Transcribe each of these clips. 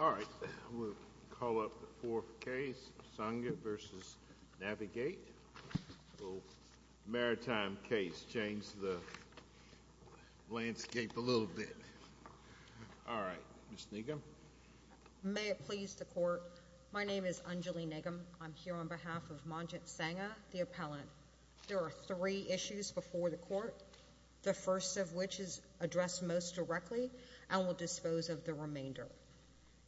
All right. We'll call up the fourth case, Sangha v. Navig8. A little maritime case, change the landscape a little bit. All right. Ms. Nigam. May it please the court. My name is Anjali Nigam. I'm here on behalf of Manjit Sangha, the appellant. There are three issues before the court, the first of which is addressed most directly and will dispose of the remainder.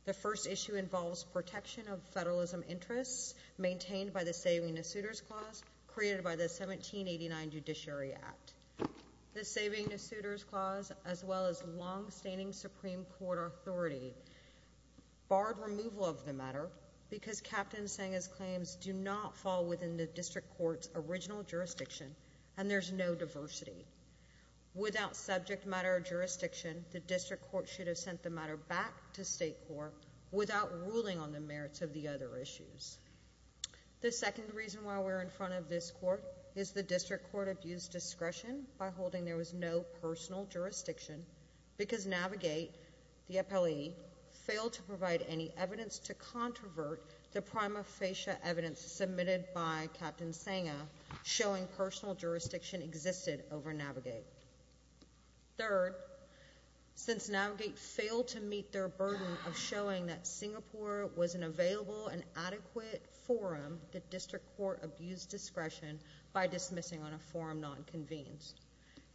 The first issue involves protection of federalism interests maintained by the Saving the Suitors Clause created by the 1789 Judiciary Act. The Saving the Suitors Clause, as well as long-standing Supreme Court authority, barred removal of the matter because Captain Sangha's claims do not fall within the district court's original jurisdiction and there's no diversity. Without subject matter jurisdiction, the district court should have sent the matter back to state court without ruling on the merits of the other issues. The second reason why we're in front of this court is the district court abused discretion by holding there was no personal jurisdiction because Navig8, the appellee, failed to provide any evidence to controvert the prima facie evidence submitted by Captain Sangha showing personal jurisdiction existed over Navig8. Third, since Navig8 failed to meet their burden of showing that Singapore was an available and adequate forum, the district court abused discretion by dismissing on a forum non-convened.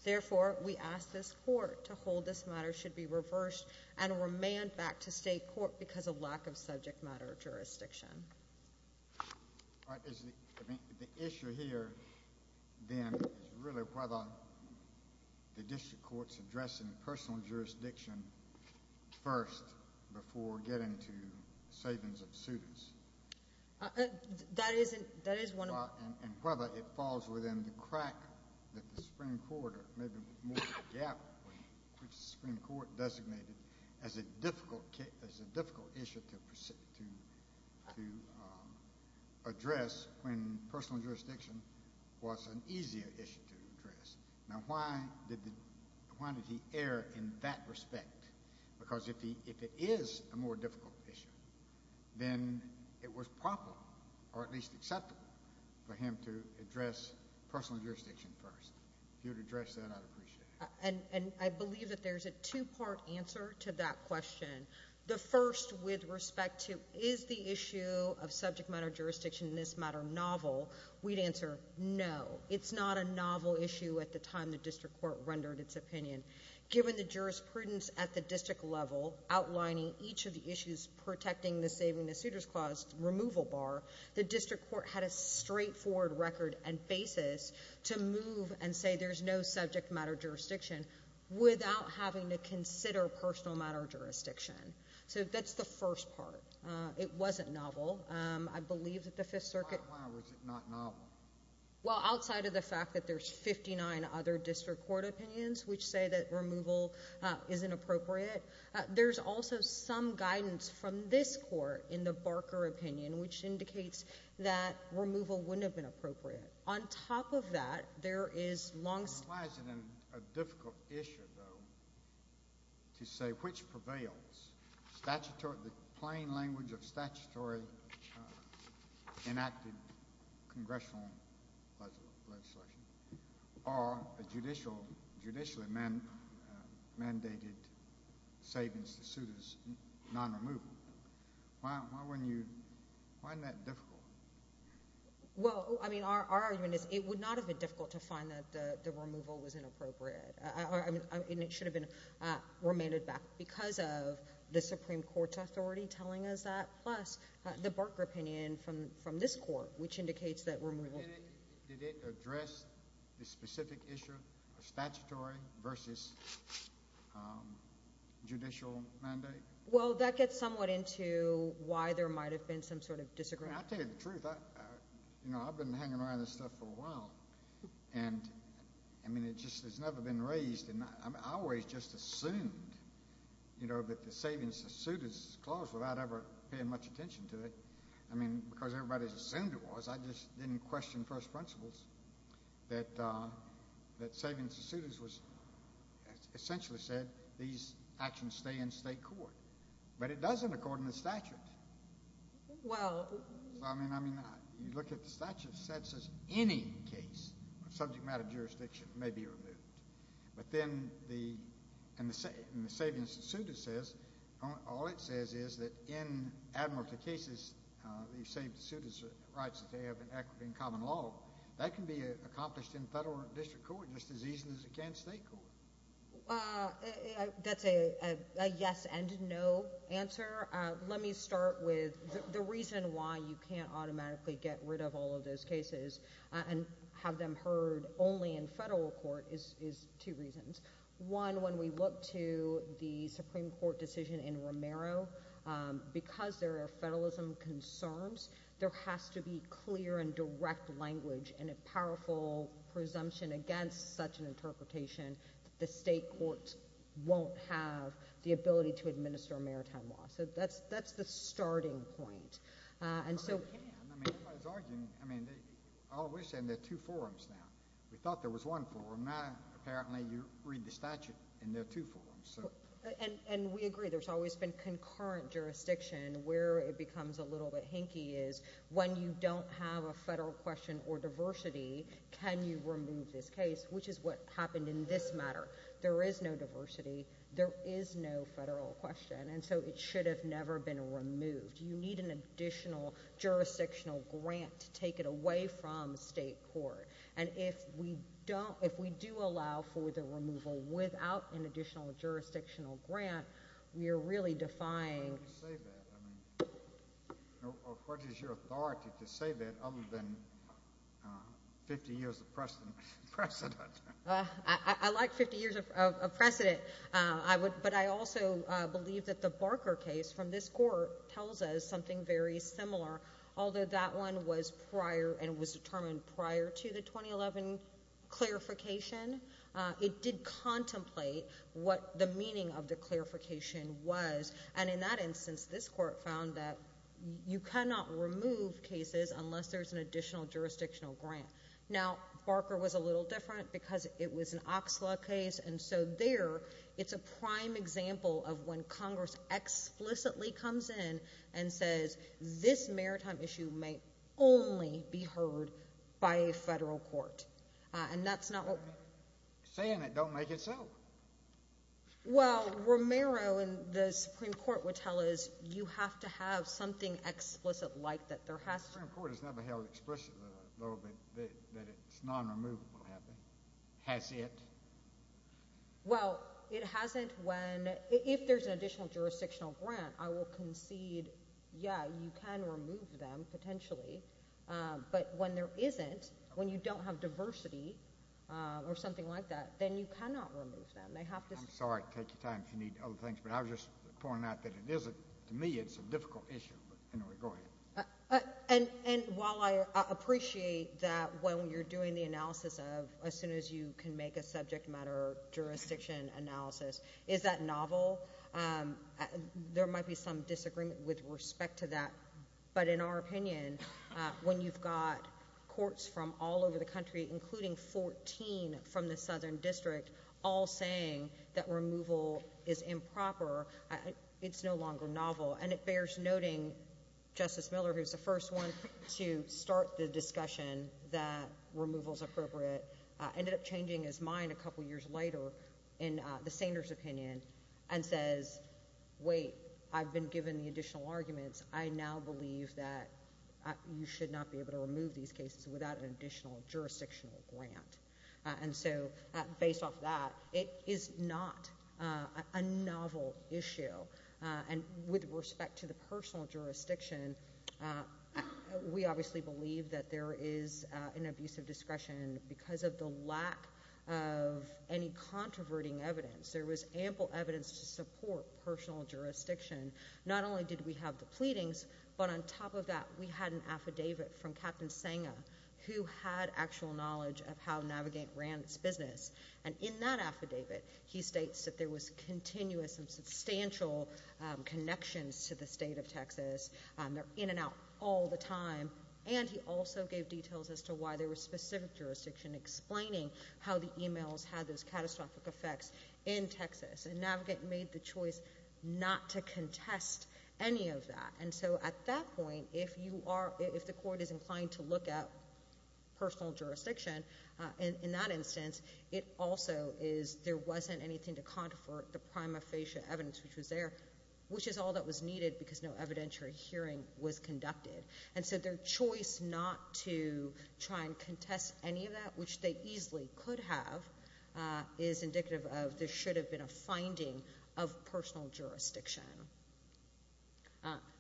Therefore, we ask this court to hold this matter should be reversed and remand back to state court because of lack of subject matter jurisdiction. I mean the issue here then is really whether the district court's addressing personal jurisdiction first before getting to savings of suitors. That is one. And whether it falls within the crack that the Supreme Court or maybe more the gap which the Supreme Court designated as a difficult issue to address when personal jurisdiction was an easier issue to address. Now, why did he err in that respect? Because if it is a more difficult issue, then it was proper or at least acceptable for him to address personal jurisdiction first. If you would address that, I'd appreciate it. And I believe that there's a two-part answer to that question. The first with respect to is the issue of subject matter jurisdiction in this matter novel? We'd answer no. It's not a novel issue at the time the district court rendered its opinion. Given the jurisprudence at the district level outlining each of the issues protecting the saving of suitors clause removal bar, the district court had a straightforward record and basis to move and say there's no subject matter jurisdiction without having to consider personal matter jurisdiction. So that's the first part. It wasn't novel. I believe that the Fifth Circuit... Why was it not novel? Well, outside of the fact that there's 59 other district court opinions which say that removal isn't appropriate, there's also some guidance from this court in the Barker opinion which indicates that removal wouldn't have been appropriate. On top of that, there is long... Why is it a difficult issue, though, to say which prevails, the plain language of statutory enacted congressional legislation or a judicially mandated savings to suitors non-removal? Why wouldn't you... Why isn't that difficult? Well, I mean, our argument is it would not have been difficult to find that the removal was inappropriate. I mean, it should have been remanded back because of the Supreme Court's authority telling us that, plus the Barker opinion from this court which indicates that removal... Did it address the specific issue of statutory versus judicial mandate? Well, that gets somewhat into why there might have been some sort of disagreement. I'll tell you the truth. You know, I've been hanging around this stuff for a while. And, I mean, it just has never been raised. And I always just assumed, you know, that the savings to suitors clause without ever paying much attention to it. I mean, because everybody assumed it was. I just didn't question first principles that savings to suitors was essentially said these actions stay in state court. But it doesn't according to statute. Well... I mean, you look at the statute, it says any case of subject matter jurisdiction may be removed. But then the... And the savings to suitors says... All it says is that in admiralty cases, the savings to suitors rights that they have in equity and common law, that can be accomplished in federal or district court just as easy as it can in state court. That's a yes and no answer. Let me start with the reason why you can't automatically get rid of all of those cases and have them heard only in federal court is two reasons. One, when we look to the Supreme Court decision in Romero, because there are federalism concerns, there has to be clear and direct language and a powerful presumption against such an interpretation that the state courts won't have the ability to administer a maritime law. So that's the starting point. And so... Well, they can. I mean, everybody's arguing. I mean, oh, we're saying there are two forums now. We thought there was one forum. Now, apparently, you read the statute and there are two forums. And we agree. There's always been concurrent jurisdiction where it becomes a little bit hinky is when you don't have a federal question or diversity, can you remove this case, which is what happened in this matter. There is no diversity. There is no federal question. And so it should have never been removed. You need an additional jurisdictional grant to take it away from state court. And if we don't, if we do allow for the removal without an additional jurisdictional grant, we are really defying... What is your authority to say that other than 50 years of precedent? I like 50 years of precedent. But I also believe that the Barker case from this court tells us something very similar. Although that one was prior and was determined prior to the 2011 clarification, it did contemplate what the meaning of the clarification was. And in that instance, this court found that you cannot remove cases unless there's an additional jurisdictional grant. Now, Barker was a little different because it was an example of when Congress explicitly comes in and says this maritime issue may only be heard by a federal court. And that's not what... Saying it don't make it so. Well, Romero and the Supreme Court would tell us you have to have something explicit like that there has to... The Supreme Court has never held explicitly that it's non-removable, has it? Well, it hasn't when... If there's an additional jurisdictional grant, I will concede, yeah, you can remove them potentially. But when there isn't, when you don't have diversity or something like that, then you cannot remove them. They have to... I'm sorry to take your time if you need other things. But I was just pointing out that it isn't. To me, it's a difficult issue. But anyway, go ahead. And while I appreciate that when you're doing the analysis of as soon as you can make a jurisdiction analysis, is that novel? There might be some disagreement with respect to that. But in our opinion, when you've got courts from all over the country, including 14 from the Southern District, all saying that removal is improper, it's no longer novel. And it bears noting Justice Miller, who's the first one to start the discussion that removal is appropriate, ended up changing his mind a couple years later in the Sanders' opinion and says, wait, I've been given the additional arguments. I now believe that you should not be able to remove these cases without an additional jurisdictional grant. And so, based off that, it is not a novel issue. And with respect to the personal jurisdiction, we obviously believe that there is an abuse of discretion because of the lack of any controverting evidence. There was ample evidence to support personal jurisdiction. Not only did we have the pleadings, but on top of that, we had an affidavit from Captain Senga, who had actual knowledge of how Navigant ran its business. And in that affidavit, he states that there was all the time. And he also gave details as to why there was specific jurisdiction explaining how the emails had those catastrophic effects in Texas. And Navigant made the choice not to contest any of that. And so, at that point, if you are, if the court is inclined to look at personal jurisdiction, in that instance, it also is, there wasn't anything to counter for the prima facie evidence which was there, which is all that was needed because no evidentiary hearing was conducted. And so, their choice not to try and contest any of that, which they easily could have, is indicative of there should have been a finding of personal jurisdiction.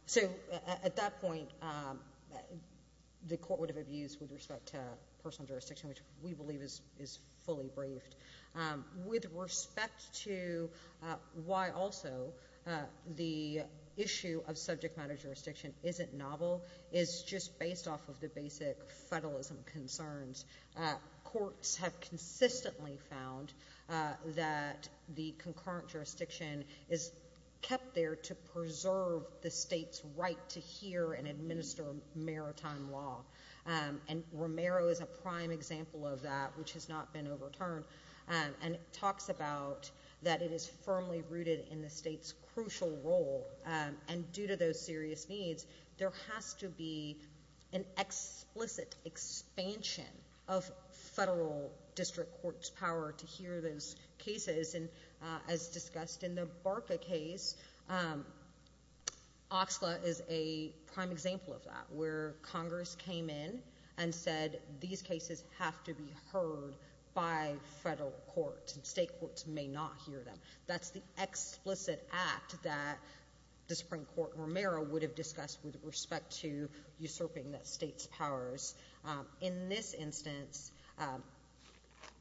So, at that point, the court would have abused with respect to personal jurisdiction, which we isn't novel. It's just based off of the basic federalism concerns. Courts have consistently found that the concurrent jurisdiction is kept there to preserve the state's right to hear and administer maritime law. And Romero is a prime example of that, which has not been overturned. And it talks about that it is firmly rooted in the state's crucial role. And due to those serious needs, there has to be an explicit expansion of federal district court's power to hear those cases. And as discussed in the Barca case, Oxla is a prime example of that, where Congress came in and said, these cases have to be heard by federal courts, and state courts may not hear them. That's the explicit act that the Supreme Court and Romero would have discussed with respect to usurping that state's powers. In this instance,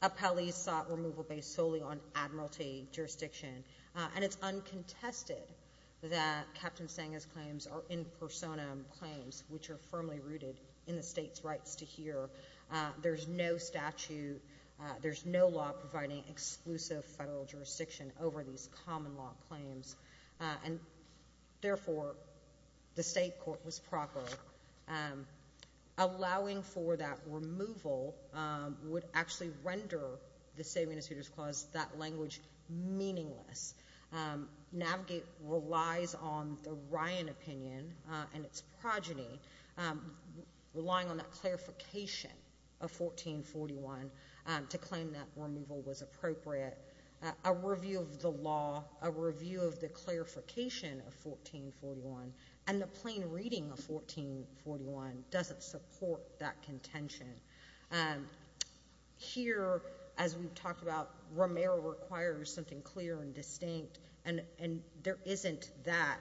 Appellees sought removal based solely on admiralty jurisdiction. And it's uncontested that Captain Sanga's claims are in personam claims, which are firmly rooted in the state's rights to hear. There's no statute, there's no providing exclusive federal jurisdiction over these common law claims. And therefore, the state court was proper. Allowing for that removal would actually render the State Administrator's Clause, that language, meaningless. Navigate relies on the Ryan opinion and its appropriate. A review of the law, a review of the clarification of 1441, and the plain reading of 1441 doesn't support that contention. Here, as we've talked about, Romero requires something clear and distinct, and there isn't that.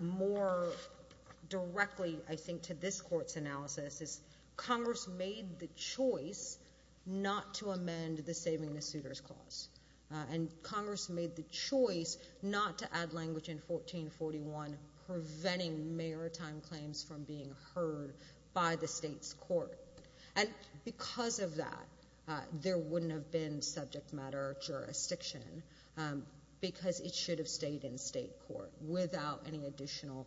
More directly, I think, to this court's analysis is Congress made the choice not to amend the Saving the Suitors Clause. And Congress made the choice not to add language in 1441 preventing maritime claims from being heard by the state's court. And because of that, there wouldn't have been subject matter jurisdiction because it should have stayed in state court without any additional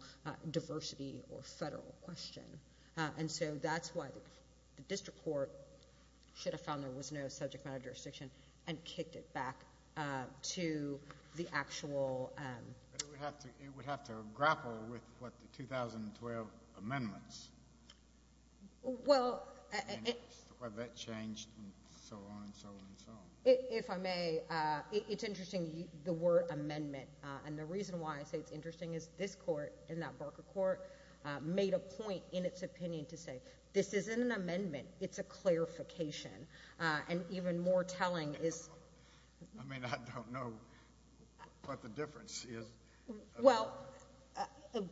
diversity or federal question. And so that's why the district court should have found there was no subject matter jurisdiction and kicked it back to the actual... It would have to grapple with what the 2012 amendments. Well... Have that changed and so on and so on and so on. If I may, it's interesting the word amendment. And the reason why I say it's interesting is this court, in that Barker Court, made a point in its opinion to say, this isn't an amendment. It's a clarification. And even more telling is... I mean, I don't know what the difference is. Well,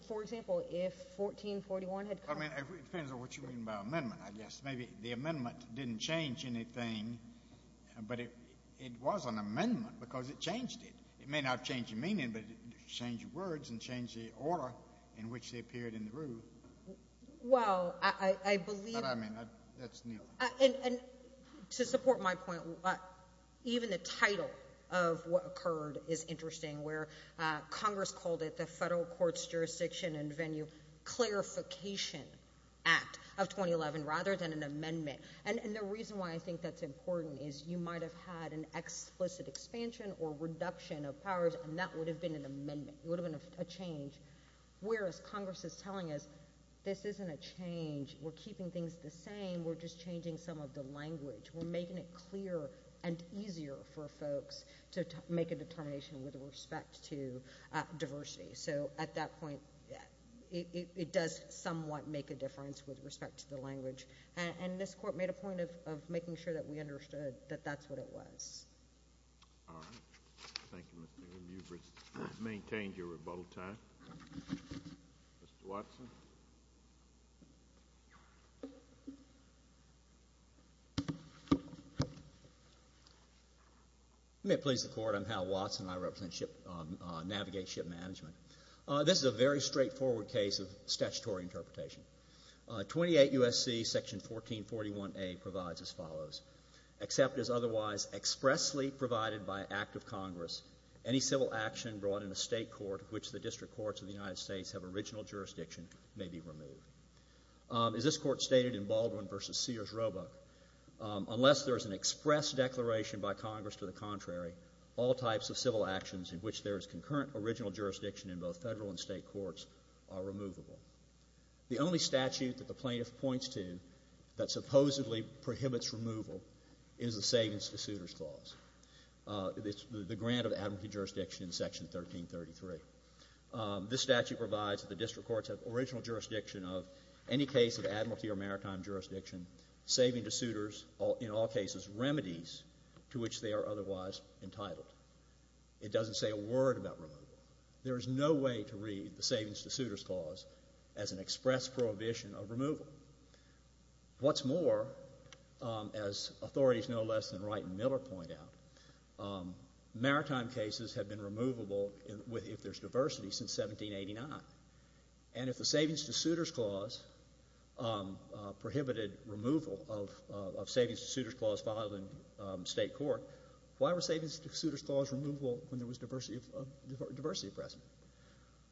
for example, if 1441 had come... I mean, it depends on what you mean by amendment, I guess. Maybe the amendment didn't change anything, but it was an amendment because it changed it. It may not have changed the meaning, but it changed the words and changed the order in which they appeared in the rule. Well, I believe... But I mean, that's Neil. And to support my point, even the title of what occurred is interesting where Congress called it the Federal Courts Jurisdiction and Venue Clarification Act of 2011 rather than an amendment. And the reason why I think that's important is you might have had an explicit expansion or reduction of powers, and that would have been an amendment. It would have been a change. Whereas Congress is telling us, this isn't a change. We're keeping things the same. We're just changing some of the language. We're making it clear and easier for folks to make a determination with respect to diversity. So at that point, it does somewhat make a difference with respect to the language. And this court made a point of making sure that we understood that that's what it was. All right. Thank you, Ms. Bingham. You've maintained your rebuttal time. Mr. Watson? Let me please the Court. I'm Hal Watson. I represent Navigate Ship Management. This is a very straightforward case of statutory interpretation. 28 U.S.C. Section 1441A provides as follows. Except as otherwise expressly provided by an act of Congress, any civil action brought in a State court of which the district courts of the United States have original jurisdiction may be removed. As this Court stated in Baldwin v. Sears-Robuck, unless there is an express declaration by Congress to the contrary, all types of civil actions in which there is concurrent original jurisdiction in both Federal and State courts are removable. The only statute that the removal is the Savings-to-Suitors Clause. It's the grant of admiralty jurisdiction in Section 1333. This statute provides that the district courts have original jurisdiction of any case of admiralty or maritime jurisdiction, saving to suitors in all cases remedies to which they are otherwise entitled. It doesn't say a word about removal. There is no way to read the As authorities no less than Wright and Miller point out, maritime cases have been removable if there's diversity since 1789. And if the Savings-to-Suitors Clause prohibited removal of Savings-to-Suitors Clause filed in State court, why were Savings-to-Suitors Clause removable when there was diversity of precedent?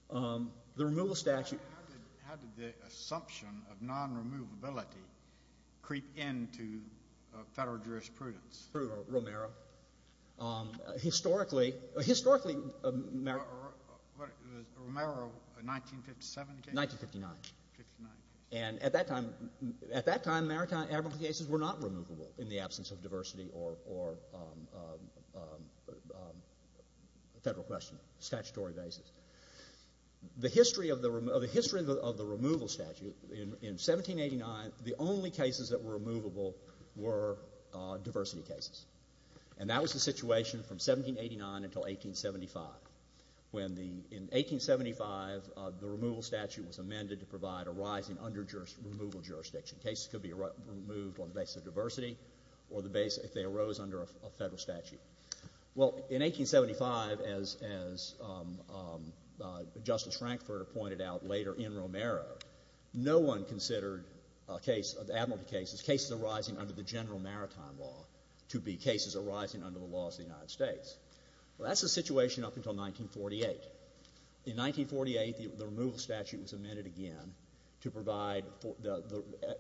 The removal statute... How did the assumption of non-removability creep into Federal jurisprudence? Through Romero. Historically... Romero, a 1957 case? 1959. And at that time, maritime cases were not removable in the absence of diversity or Federal question, statutory basis. The history of the removal statute in 1789, the only cases that were removable were diversity cases. And that was the situation from 1789 until 1875. In 1875, the removal statute was amended to provide a rising under removal jurisdiction. Cases could be removed on the basis of diversity or if they arose under a Federal statute. Well, in 1875, as Justice Frankfurter pointed out later in Romero, no one considered admiralty cases, cases arising under the general maritime law, to be cases arising under the laws of the United States. Well, that's the situation up until 1948. In 1948, the removal statute was amended again to provide,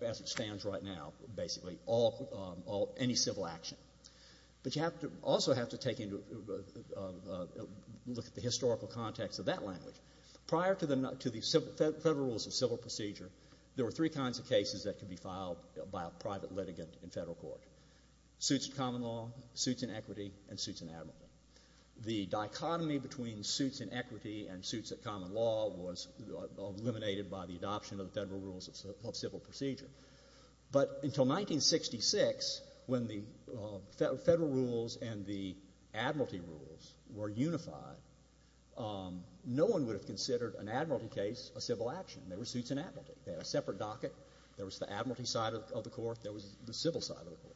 as it stands right now, basically, any civil action. But you also have to look at the historical context of that language. Prior to the Federal rules of civil procedure, there were three kinds of cases that could be filed by a private litigant in Federal court. Suits of common law, suits in equity, and suits in admiralty. The dichotomy between suits in equity and suits of common law was eliminated by the adoption of the Federal rules of civil procedure. But until 1966, when the Federal rules and the admiralty rules were unified, no one would have considered an admiralty case a civil action. They were suits in admiralty. They had a separate docket. There was the admiralty side of the court. There was the civil side of the court,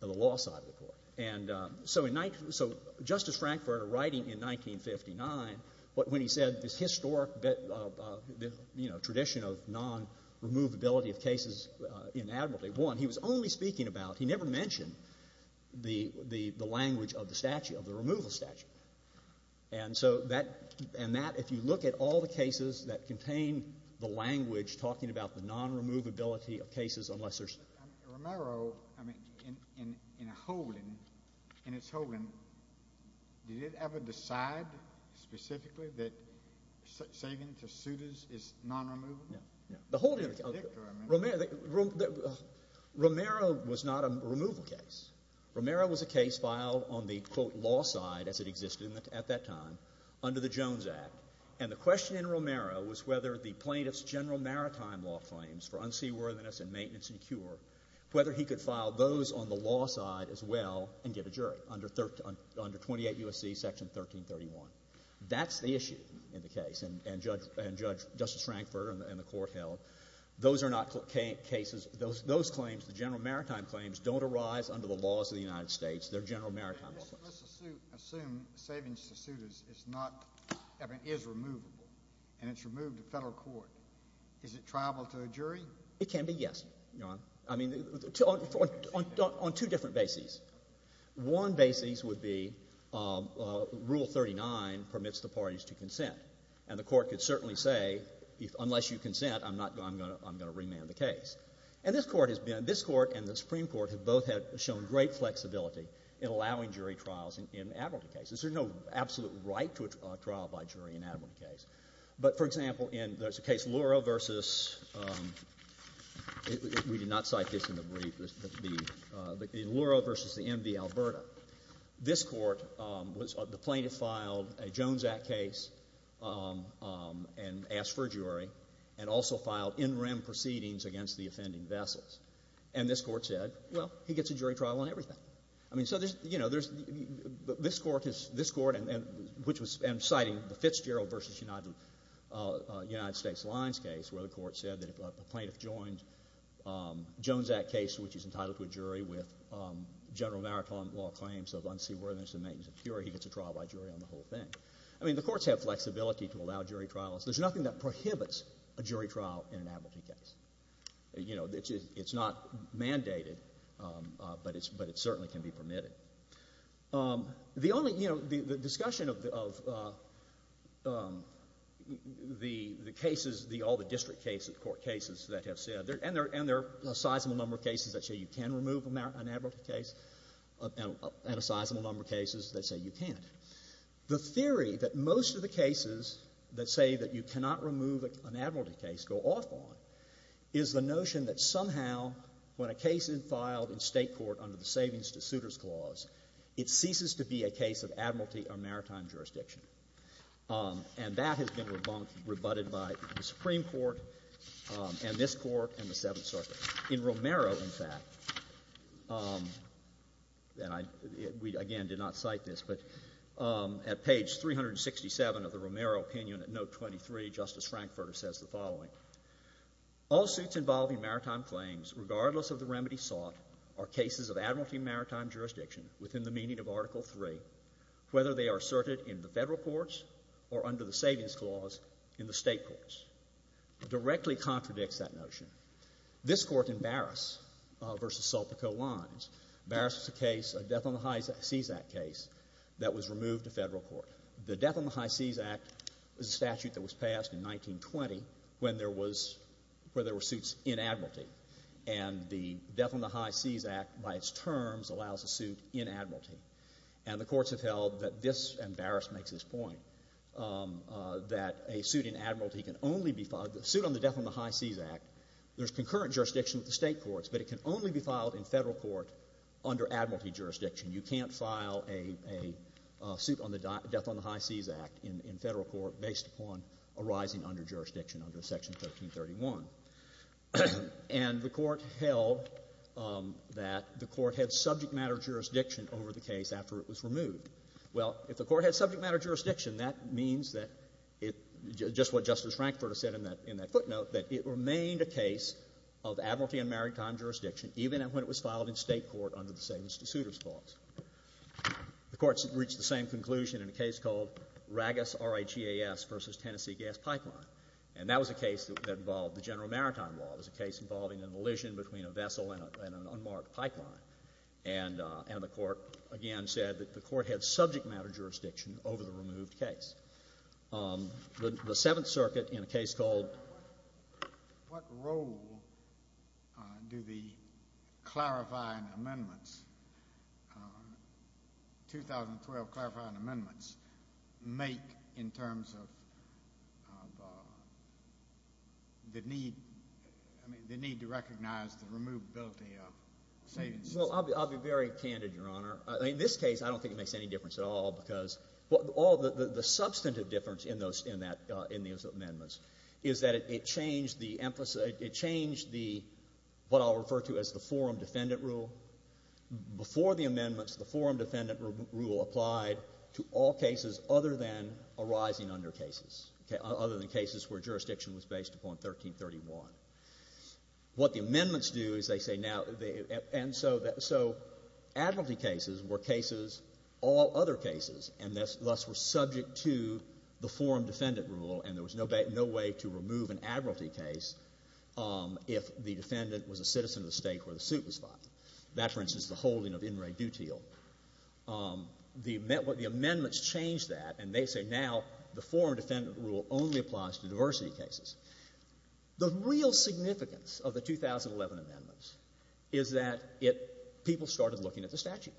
the law side of the court. And so in 19 — so Justice Frankfurter, writing in 1959, when he said this historic tradition of non-removability of cases in admiralty, one, he was only speaking about — he never mentioned the language of the statute, of the removal statute. And so that — and that, if you look at all the cases that contain the language talking about the non-removability of cases, unless there's — I mean, Romero, I mean, in a holding, in his holding, did it ever decide specifically that saving to suitors is non-removal? No, no. The holding — The predictor, I mean. Romero — Romero was not a removal case. Romero was a case filed on the, quote, law side, as it existed at that time, under the Jones Act. And the question in Romero was whether the plaintiff's general maritime law claims for unseaworthiness and maintenance and cure, whether he could file those on the law side as well and get a jury under 28 U.S.C. Section 1331. That's the issue in the case. And Judge — and Justice Frankfurter and the court held, those are not cases — those claims, the general maritime claims, don't arise under the laws of the United States. They're general maritime law claims. Let's assume saving to suitors is not — I mean, is removable, and it's removed to federal court. Is it triable to a jury? It can be, yes, Your Honor. I mean, on two different bases. One basis would be Rule 39 permits the parties to consent. And the court could certainly say, unless you consent, I'm not going to — I'm going to remand the case. And this Court has been — this Court and the Supreme Court have both had shown great flexibility in allowing jury trials in admiralty cases. There's no absolute right to a trial by jury in an admiralty case. But, for example, in — there's a case, Lura v. — we did not cite this in the brief, but the — in Lura v. the MV Alberta. This Court was — the plaintiff filed a Jones Act case and asked for a jury, and also filed in rem proceedings against the offending vessels. And this Court said, well, he gets a jury trial on everything. I mean, so there's — you know, there's — this Court has — this Court, and — which was — and citing the Fitzgerald v. United States Lines case, where the Court said that if a plaintiff joined Jones Act case, which is entitled to a jury, with general maritime law claims of unseaworthiness and maintenance of security, he gets a trial by jury on the whole thing. I mean, the Courts have flexibility to allow jury trials. There's nothing that prohibits a jury trial in an admiralty case. You know, it's not mandated, but it's — but it certainly can be permitted. The only — you know, the discussion of the cases, the — all the district cases, court cases that have said — and there are a sizable number of cases that say you can remove an admiralty case, and a sizable number of cases that say you can't. The theory that most of the cases that say that you cannot remove an admiralty case go off on is the notion that somehow when a case is filed in State court under the Savings to Suitors Clause, it ceases to be a case of admiralty or maritime jurisdiction. And that has been rebutted by the Supreme Court and this Court and the Seventh Circuit. In Romero, in fact — and I — we, again, did not cite this, but at page 367 of the Romero opinion at note 23, Justice Frankfurter says the following. All suits involving maritime claims, regardless of the remedy sought, are cases of admiralty maritime jurisdiction within the meaning of Article III, whether they are asserted in the Federal courts or under the Savings Clause in the State courts, directly contradicts that notion. This Court in Barras v. Sulpico lines, Barras is a case — a Death on the High Seas Act case that was removed to Federal court. The Death on the High Seas Act is a statute that was passed in 1920 when there was — where there were suits in admiralty. And the Death on the High Seas Act, by its terms, allows a suit in admiralty. And the courts have held that this — and a suit in admiralty can only be filed — the suit on the Death on the High Seas Act, there's concurrent jurisdiction with the State courts, but it can only be filed in Federal court under admiralty jurisdiction. You can't file a — a suit on the Death on the High Seas Act in — in Federal court based upon arising under jurisdiction under Section 1331. And the Court held that the Court had subject matter jurisdiction over the case after it was removed. Well, if the Court had subject matter jurisdiction, that means that it — just what Justice Frankfurter said in that — in that footnote, that it remained a case of admiralty and maritime jurisdiction even when it was filed in State court under the same suitor's clause. The courts reached the same conclusion in a case called Ragus R-A-G-A-S v. Tennessee Gas Pipeline. And that was a case that involved the General Maritime Law. It was a case involving an elision between a vessel and an unmarked pipeline. And the Court, again, said that the Court had subject matter jurisdiction over the removed case. The Seventh Circuit in a case called — What role do the clarifying amendments, 2012 clarifying amendments, make in terms of the need — I mean, the need to recognize the removability of savings? Well, I'll be very candid, Your Honor. In this case, I don't think it makes any difference at all because — all — the substantive difference in those — in that — in those amendments is that it changed the emphasis — it changed the — what I'll refer to as the forum defendant rule. Before the amendments, the forum defendant rule applied to all cases other than arising under other than cases where jurisdiction was based upon 1331. What the amendments do is they say now — and so that — so admiralty cases were cases — all other cases, and thus were subject to the forum defendant rule, and there was no way to remove an admiralty case if the defendant was a citizen of the State where the suit was filed. That, for instance, is the holding of applies to diversity cases. The real significance of the 2011 amendments is that it — people started looking at the statute.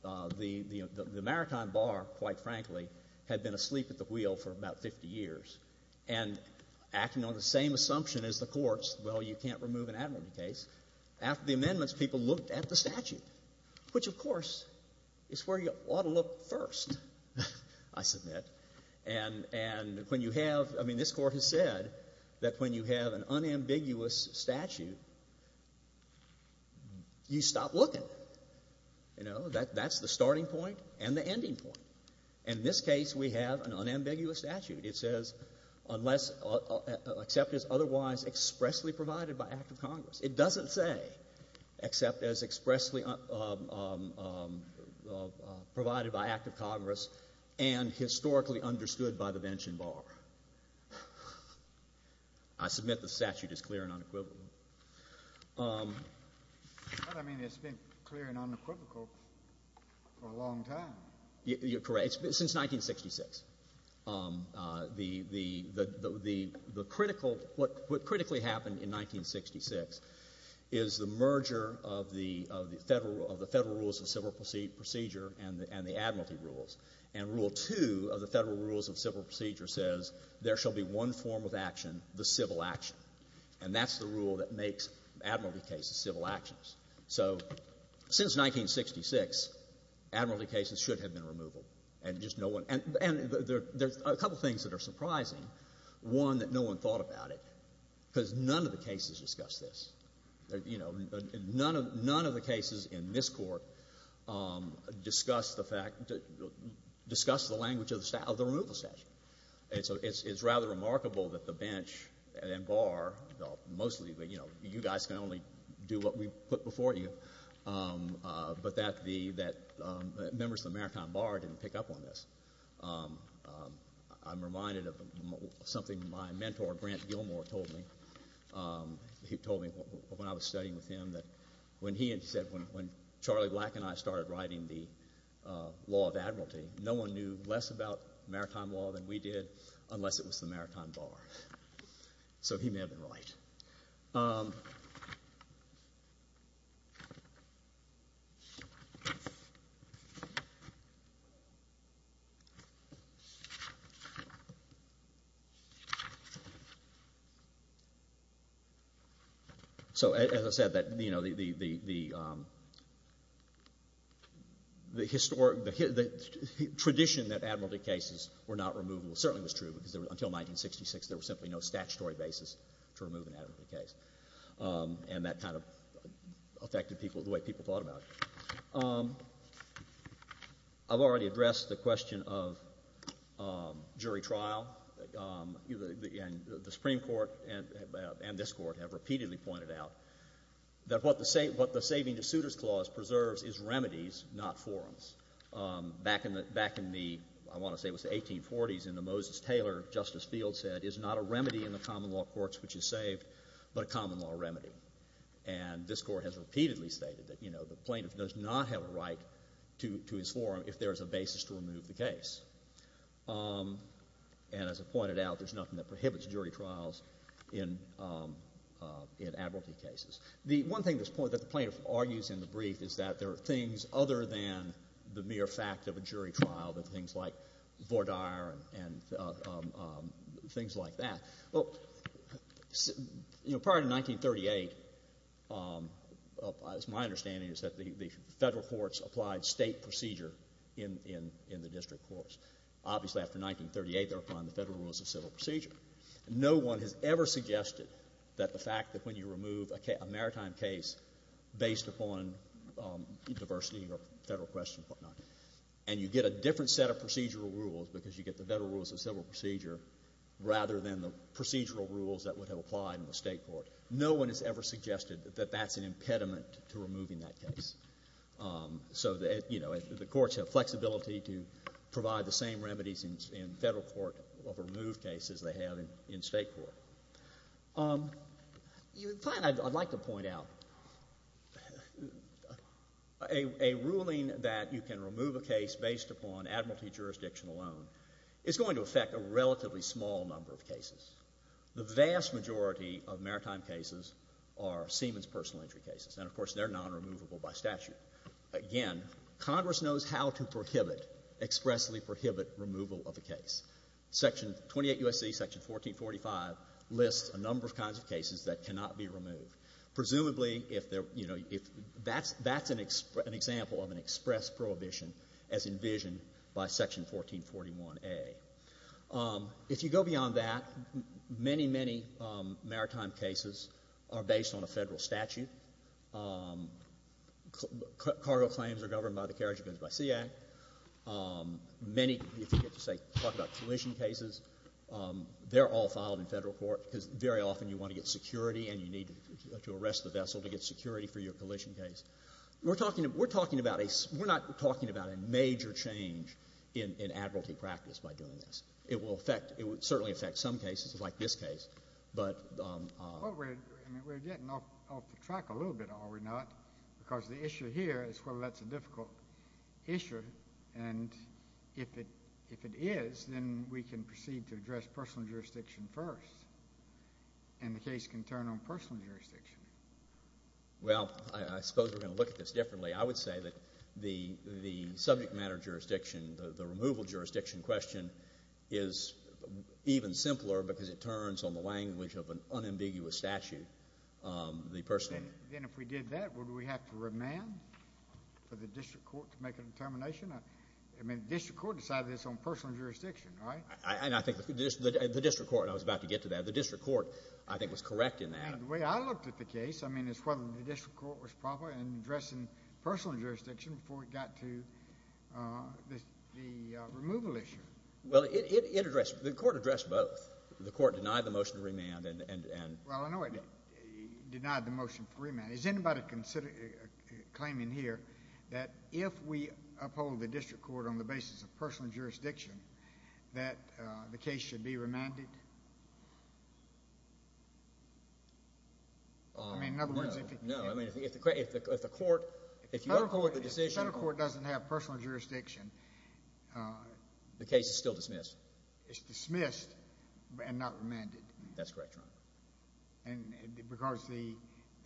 The Maritime Bar, quite frankly, had been asleep at the wheel for about 50 years, and acting on the same assumption as the courts, well, you can't remove an admiralty case. After the amendments, people looked at the statute, which, of course, is where you ought to look first, I submit. And when you have — I mean, this Court has said that when you have an unambiguous statute, you stop looking. You know, that's the starting point and the ending point. In this case, we have an unambiguous statute. It says unless — except as otherwise expressly by act of Congress. It doesn't say except as expressly provided by act of Congress and historically understood by the Vention Bar. I submit the statute is clear and unequivocal. But, I mean, it's been clear and unequivocal for a long time. You're correct. It's been — since 1966. The — the critical — what critically happened in 1966 is the merger of the — of the Federal — of the Federal rules of civil procedure and the admiralty rules. And Rule 2 of the Federal rules of civil procedure says there shall be one form of action, the civil action. And that's the rule that makes admiralty cases civil actions. So since 1966, admiralty cases should have been removal. And just no one — and there's a couple things that are surprising. One, that no one thought about it, because none of the cases discuss this. You know, none of — none of the cases in this Court discuss the fact — discuss the language of the removal statute. So it's rather remarkable that the Bench and Bar — well, mostly, but, you know, you guys can only do what we put before you. But that the — that members of the Maritime Bar didn't pick up on this. I'm reminded of something my mentor, Grant Gilmore, told me. He told me, when I was studying with him, that when he had said — when Charlie Black and I started writing the law of admiralty, no one knew less about maritime law than we did unless it was the Maritime Bar. So he may have been right. So as I said, that, you know, the — the historic — the tradition that admiralty cases were not removable certainly was true, because until 1966, there was simply no statutory basis to remove an admiralty case. And that kind of affected people — the way people thought about it. I've already addressed the question of jury trial. And the Supreme Court and this Court have repeatedly pointed out that what the saving to suitors clause preserves is remedies, not forums. Back in the — back in the — I want to say it was the 1840s, in the Moses Taylor, Justice Field said, is not a remedy in the common law courts which is saved, but a common law remedy. And this Court has repeatedly stated that, you know, the plaintiff does not have a right to — to his forum if there is a basis to remove the case. And as I pointed out, there's nothing that prohibits jury trials in — in admiralty cases. The one thing that's — that the plaintiff argues in the brief is that there are things other than the mere fact of a jury trial, that things like Vordaer and things like that. Well, you know, prior to 1938, my understanding is that the federal courts applied state procedure in — in the district courts. Obviously, after 1938, they're applying the federal rules of civil procedure. No one has ever suggested that the fact that when you remove a maritime case based upon diversity or federal questions and whatnot, and you get a different set of procedural rules because you get the federal rules of civil procedure rather than the procedural rules that would have applied in the state court. No one has ever suggested that that's an impediment to removing that case. So, you know, the courts have flexibility to provide the same remedies in — in federal court of removed cases they have in — in state court. You — I'd like to point out a — a ruling that you can remove a case based upon admiralty jurisdiction alone. It's going to affect a relatively small number of cases. The vast majority of maritime cases are Siemens personal injury cases. And, of course, they're non-removable by statute. Again, Congress knows how to prohibit — expressly prohibit removal of a case. Section — 28 U.S.C. Section 1445 lists a number of kinds of cases that cannot be removed. Presumably, if they're — you know, if — that's — that's an — an example of an express prohibition as envisioned by Section 1441a. If you go beyond that, many, many maritime cases are based on a Federal statute. Cargo claims are governed by the Carriage of Bids by Sea Act. Many — if you get to, say, talk about collision cases, they're all filed in Federal court because very often you want to get security and you need to arrest the vessel to get security for your collision case. We're talking — we're talking about a — we're not talking about a major change in — in admiralty practice by doing this. It will affect — it would certainly affect some cases, like this case. But — Well, we're — I mean, we're getting off the track a little bit, are we not? Because the issue here is whether that's a difficult issue. And if it — if it is, then we can proceed to address personal jurisdiction first. And the case can turn on personal jurisdiction. Well, I suppose we're going to look at this differently. I would say that the subject matter jurisdiction, the removal jurisdiction question, is even simpler because it turns on the language of an unambiguous statute, the personal — And then if we did that, would we have to remand for the district court to make a determination? I mean, the district court decided this on personal jurisdiction, right? I — and I think the district court — and I was about to get to that — the district court, I think, was correct in that. The way I looked at the case, I mean, is whether the district court was proper in addressing personal jurisdiction before it got to the removal issue. Well, it addressed — the court addressed both. The court denied the motion to remand and — Well, I know it denied the motion for remand. Is anybody considering — claiming here that if we uphold the district court on the basis of personal jurisdiction, that the case should be remanded? I mean, in other words, if it — No, no. I mean, if the court — if you uphold the decision — If the federal court doesn't have personal jurisdiction — The case is still dismissed. It's dismissed and not remanded. That's correct, Your Honor. And because the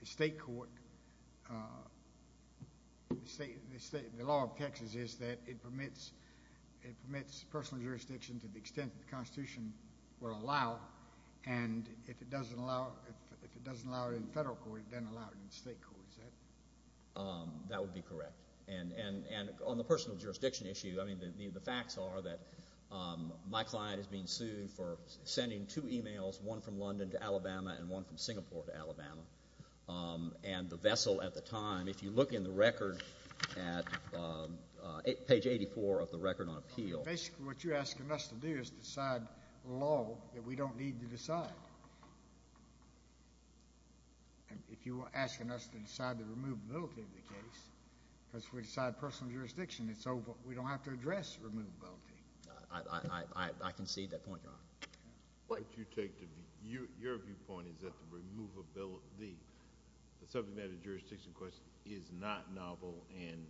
state court — the state — the law of Texas is that it permits — it permits personal jurisdiction to the extent that the Constitution will allow, and if it doesn't allow — if it doesn't allow it in federal court, it doesn't allow it in state court, is that — That would be correct. And on the personal jurisdiction issue, I mean, the facts are that my client is being sued for sending two emails, one from London to Alabama and one from Singapore to Alabama. And the vessel at the time, if you look in the record at page 84 of the record on appeal — Basically, what you're asking us to do is decide a law that we don't need to decide. And if you were asking us to decide the removability of the case, because if we decide personal jurisdiction, it's over. We don't have to address removability. I concede that point, Your Honor. What you take to be — your viewpoint is that the removability — the subject matter jurisdiction question is not novel and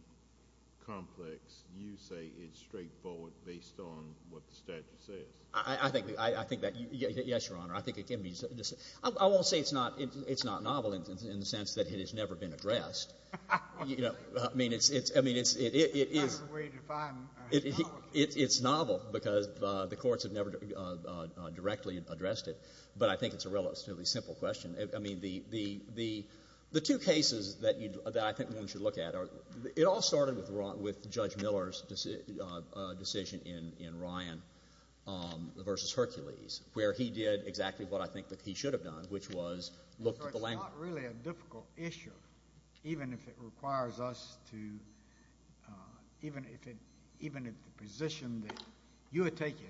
complex. You say it's straightforward based on what the statute says. I think that — yes, Your Honor. I think it can be — I won't say it's not — it's not novel in the sense that it has never been addressed. You know, I mean, it's — I mean, it is — That's the way you define novelty. It's novel because the courts have never directly addressed it. But I think it's a relatively simple question. I mean, the two cases that I think one should look at are — it all started with Judge in Ryan v. Hercules, where he did exactly what I think that he should have done, which was look at the language. So it's not really a difficult issue, even if it requires us to — even if it — even if the position that you had taken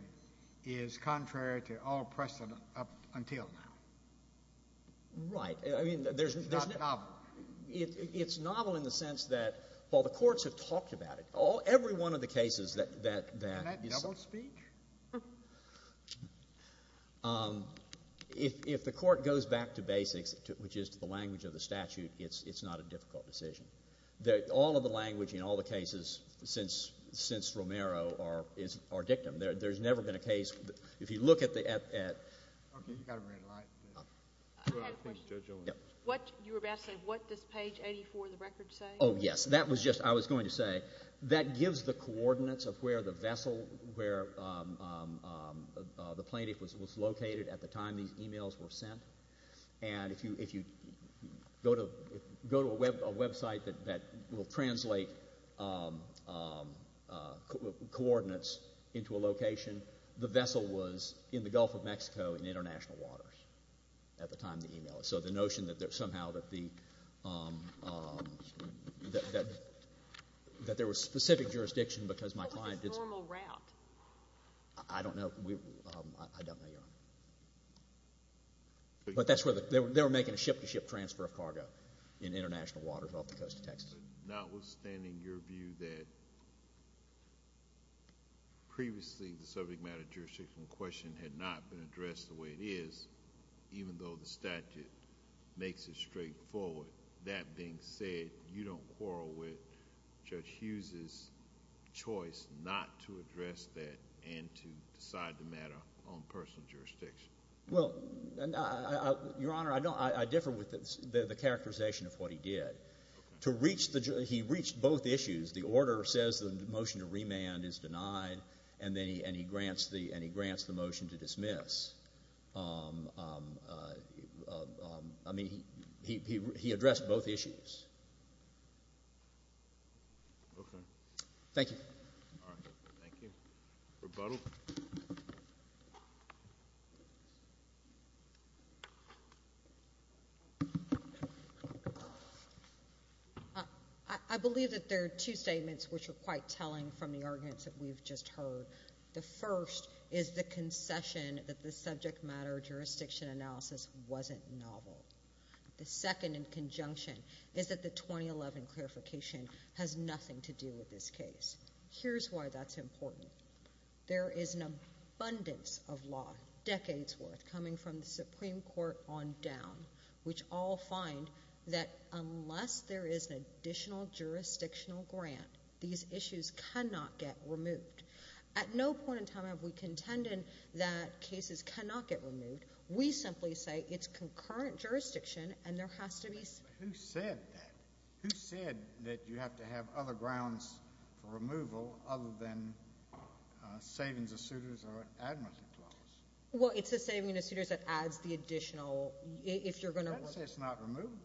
is contrary to all precedent up until now. Right. I mean, there's — It's not novel. It's novel in the sense that, while the courts have talked about it, every one of the cases that — Isn't that double speech? If the court goes back to basics, which is to the language of the statute, it's not a difficult decision. All of the language in all the cases since Romero are dictum. There's never been a case — if you look at the — OK. You've got a red light. Please, Judge Owen. What — you were about to say, what does page 84 of the record say? Oh, yes. That was just — I was going to say, that gives the coordinates of where the vessel, where the plaintiff was located at the time these emails were sent. And if you go to a website that will translate coordinates into a location, the vessel was in the Gulf of Mexico in international waters at the time of the email. So the notion that somehow that the — that there was specific jurisdiction because my client did — What was his normal route? I don't know. I don't know, Your Honor. But that's where — they were making a ship-to-ship transfer of cargo in international waters off the coast of Texas. Notwithstanding your view that previously the subject matter jurisdiction question had not been addressed the way it is, even though the statute makes it straightforward, that being said, you don't quarrel with Judge Hughes' choice not to address that and to decide the matter on personal jurisdiction? Well, Your Honor, I don't — I differ with the characterization of what he did. To reach the — he reached both issues. The order says the motion to remand is denied, and then he — and he grants the — and he grants — I mean, he addressed both issues. Okay. Thank you. All right. Thank you. Rebuttal? I believe that there are two statements which are quite telling from the arguments that we've just heard. The first is the concession that the subject matter jurisdiction analysis wasn't novel. The second, in conjunction, is that the 2011 clarification has nothing to do with this case. Here's why that's important. There is an abundance of law, decades' worth, coming from the Supreme Court on down, which all find that unless there is an additional jurisdictional grant, these issues cannot get removed. At no point in time have we contended that cases cannot get removed. We simply say it's concurrent jurisdiction, and there has to be — Who said that? Who said that you have to have other grounds for removal other than savings of suitors or an admittance clause? Well, it's a savings of suitors that adds the additional — if you're going to — That says it's not removable.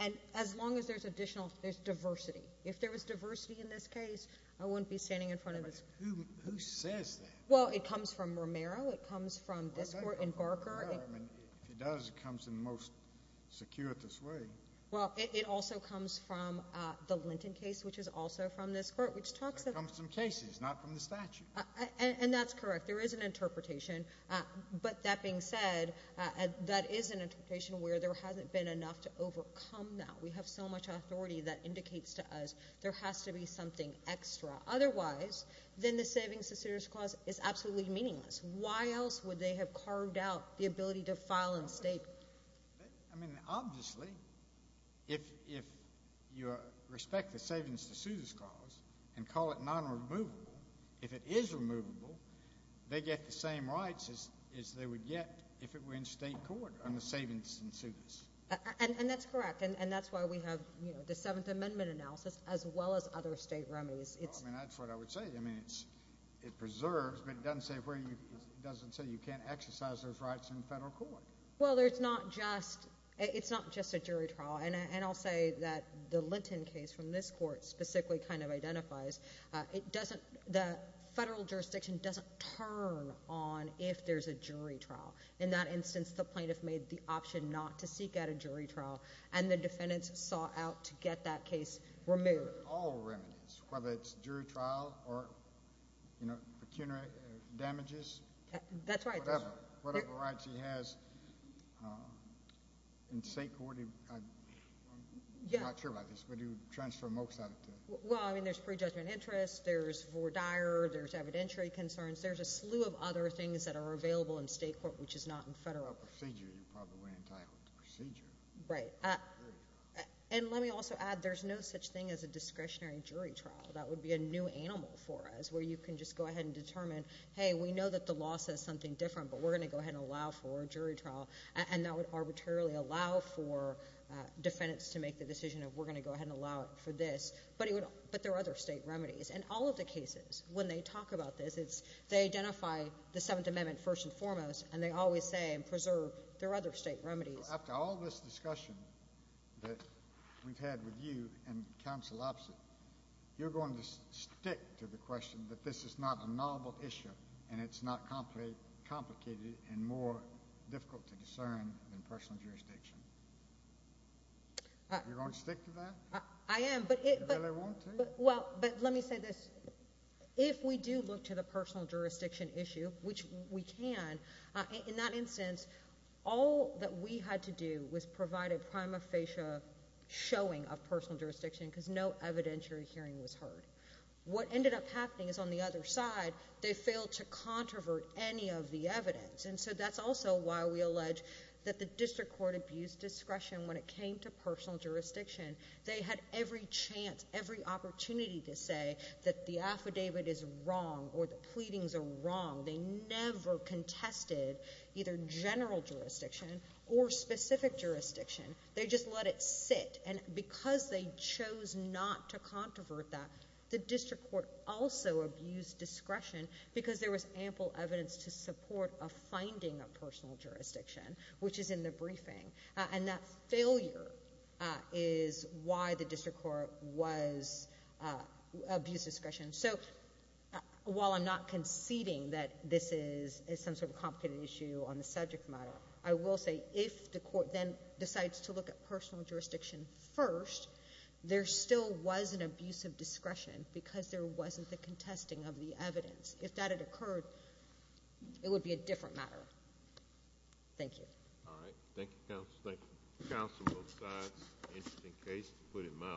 And as long as there's additional — there's diversity. If there was diversity in this case, I wouldn't be standing in front of this — Who says that? Well, it comes from Romero. It comes from this Court in Barker. Well, I think it comes from Romero. I mean, if it does, it comes in the most circuitous way. Well, it also comes from the Linton case, which is also from this Court, which talks of — There comes from cases, not from the statute. And that's correct. There is an interpretation. But that being said, that is an interpretation where there hasn't been enough to overcome that. We have so much authority that indicates to us there has to be something extra. Otherwise, then the savings of suitors clause is absolutely meaningless. Why else would they have carved out the ability to file in state? I mean, obviously, if you respect the savings of suitors clause and call it non-removable, if it is removable, they get the same rights as they would get if it were in state court on the savings of suitors. And that's correct. And that's why we have the Seventh Amendment analysis as well as other state remedies. Well, I mean, that's what I would say. I mean, it preserves, but it doesn't say you can't exercise those rights in federal court. Well, it's not just a jury trial. And I'll say that the Linton case from this Court specifically kind of identifies the federal jurisdiction doesn't turn on if there's a jury trial. In that instance, the plaintiff made the option not to seek out a jury trial. And the defendants sought out to get that case removed. All remedies, whether it's jury trial or, you know, pecuniary damages. That's right. Whatever. Whatever rights he has in state court. I'm not sure about this, but you transfer most of it to him. Well, I mean, there's pre-judgment interest. There's for Dyer. There's evidentiary concerns. There's a slew of other things that are available in state court, which is not in federal. Procedure. You probably weren't entitled to procedure. Right. And let me also add, there's no such thing as a discretionary jury trial. That would be a new animal for us, where you can just go ahead and determine, hey, we know that the law says something different, but we're going to go ahead and allow for a jury trial. And that would arbitrarily allow for defendants to make the decision of, we're going to go ahead and allow it for this. But there are other state remedies. And all of the cases, when they talk about this, it's, they identify the Seventh Amendment first and foremost. And they always say, and preserve, there are other state remedies. After all this discussion that we've had with you and counsel Opsit, you're going to stick to the question that this is not a novel issue, and it's not complicated and more difficult to discern than personal jurisdiction. You're going to stick to that? I am. You really want to? Well, but let me say this. If we do look to the personal jurisdiction issue, which we can, in that instance, all that we had to do was provide a prima facie showing of personal jurisdiction because no evidentiary hearing was heard. What ended up happening is on the other side, they failed to controvert any of the evidence. And so that's also why we allege that the district court abused discretion when it came to personal jurisdiction. They had every chance, every opportunity to say that the affidavit is wrong or the pleadings are wrong. They never contested either general jurisdiction or specific jurisdiction. They just let it sit. And because they chose not to controvert that, the district court also abused discretion because there was ample evidence to support a finding of personal jurisdiction, which is in the briefing. And that failure is why the district court was abused discretion. So while I'm not conceding that this is some sort of complicated issue on the subject matter, I will say if the court then decides to look at personal jurisdiction first, there still was an abuse of discretion because there wasn't the contesting of the evidence. If that had occurred, it would be a different matter. Thank you. All right. Thank you, counsel. Thank you. Counsel, both sides. Interesting case, to put it mildly.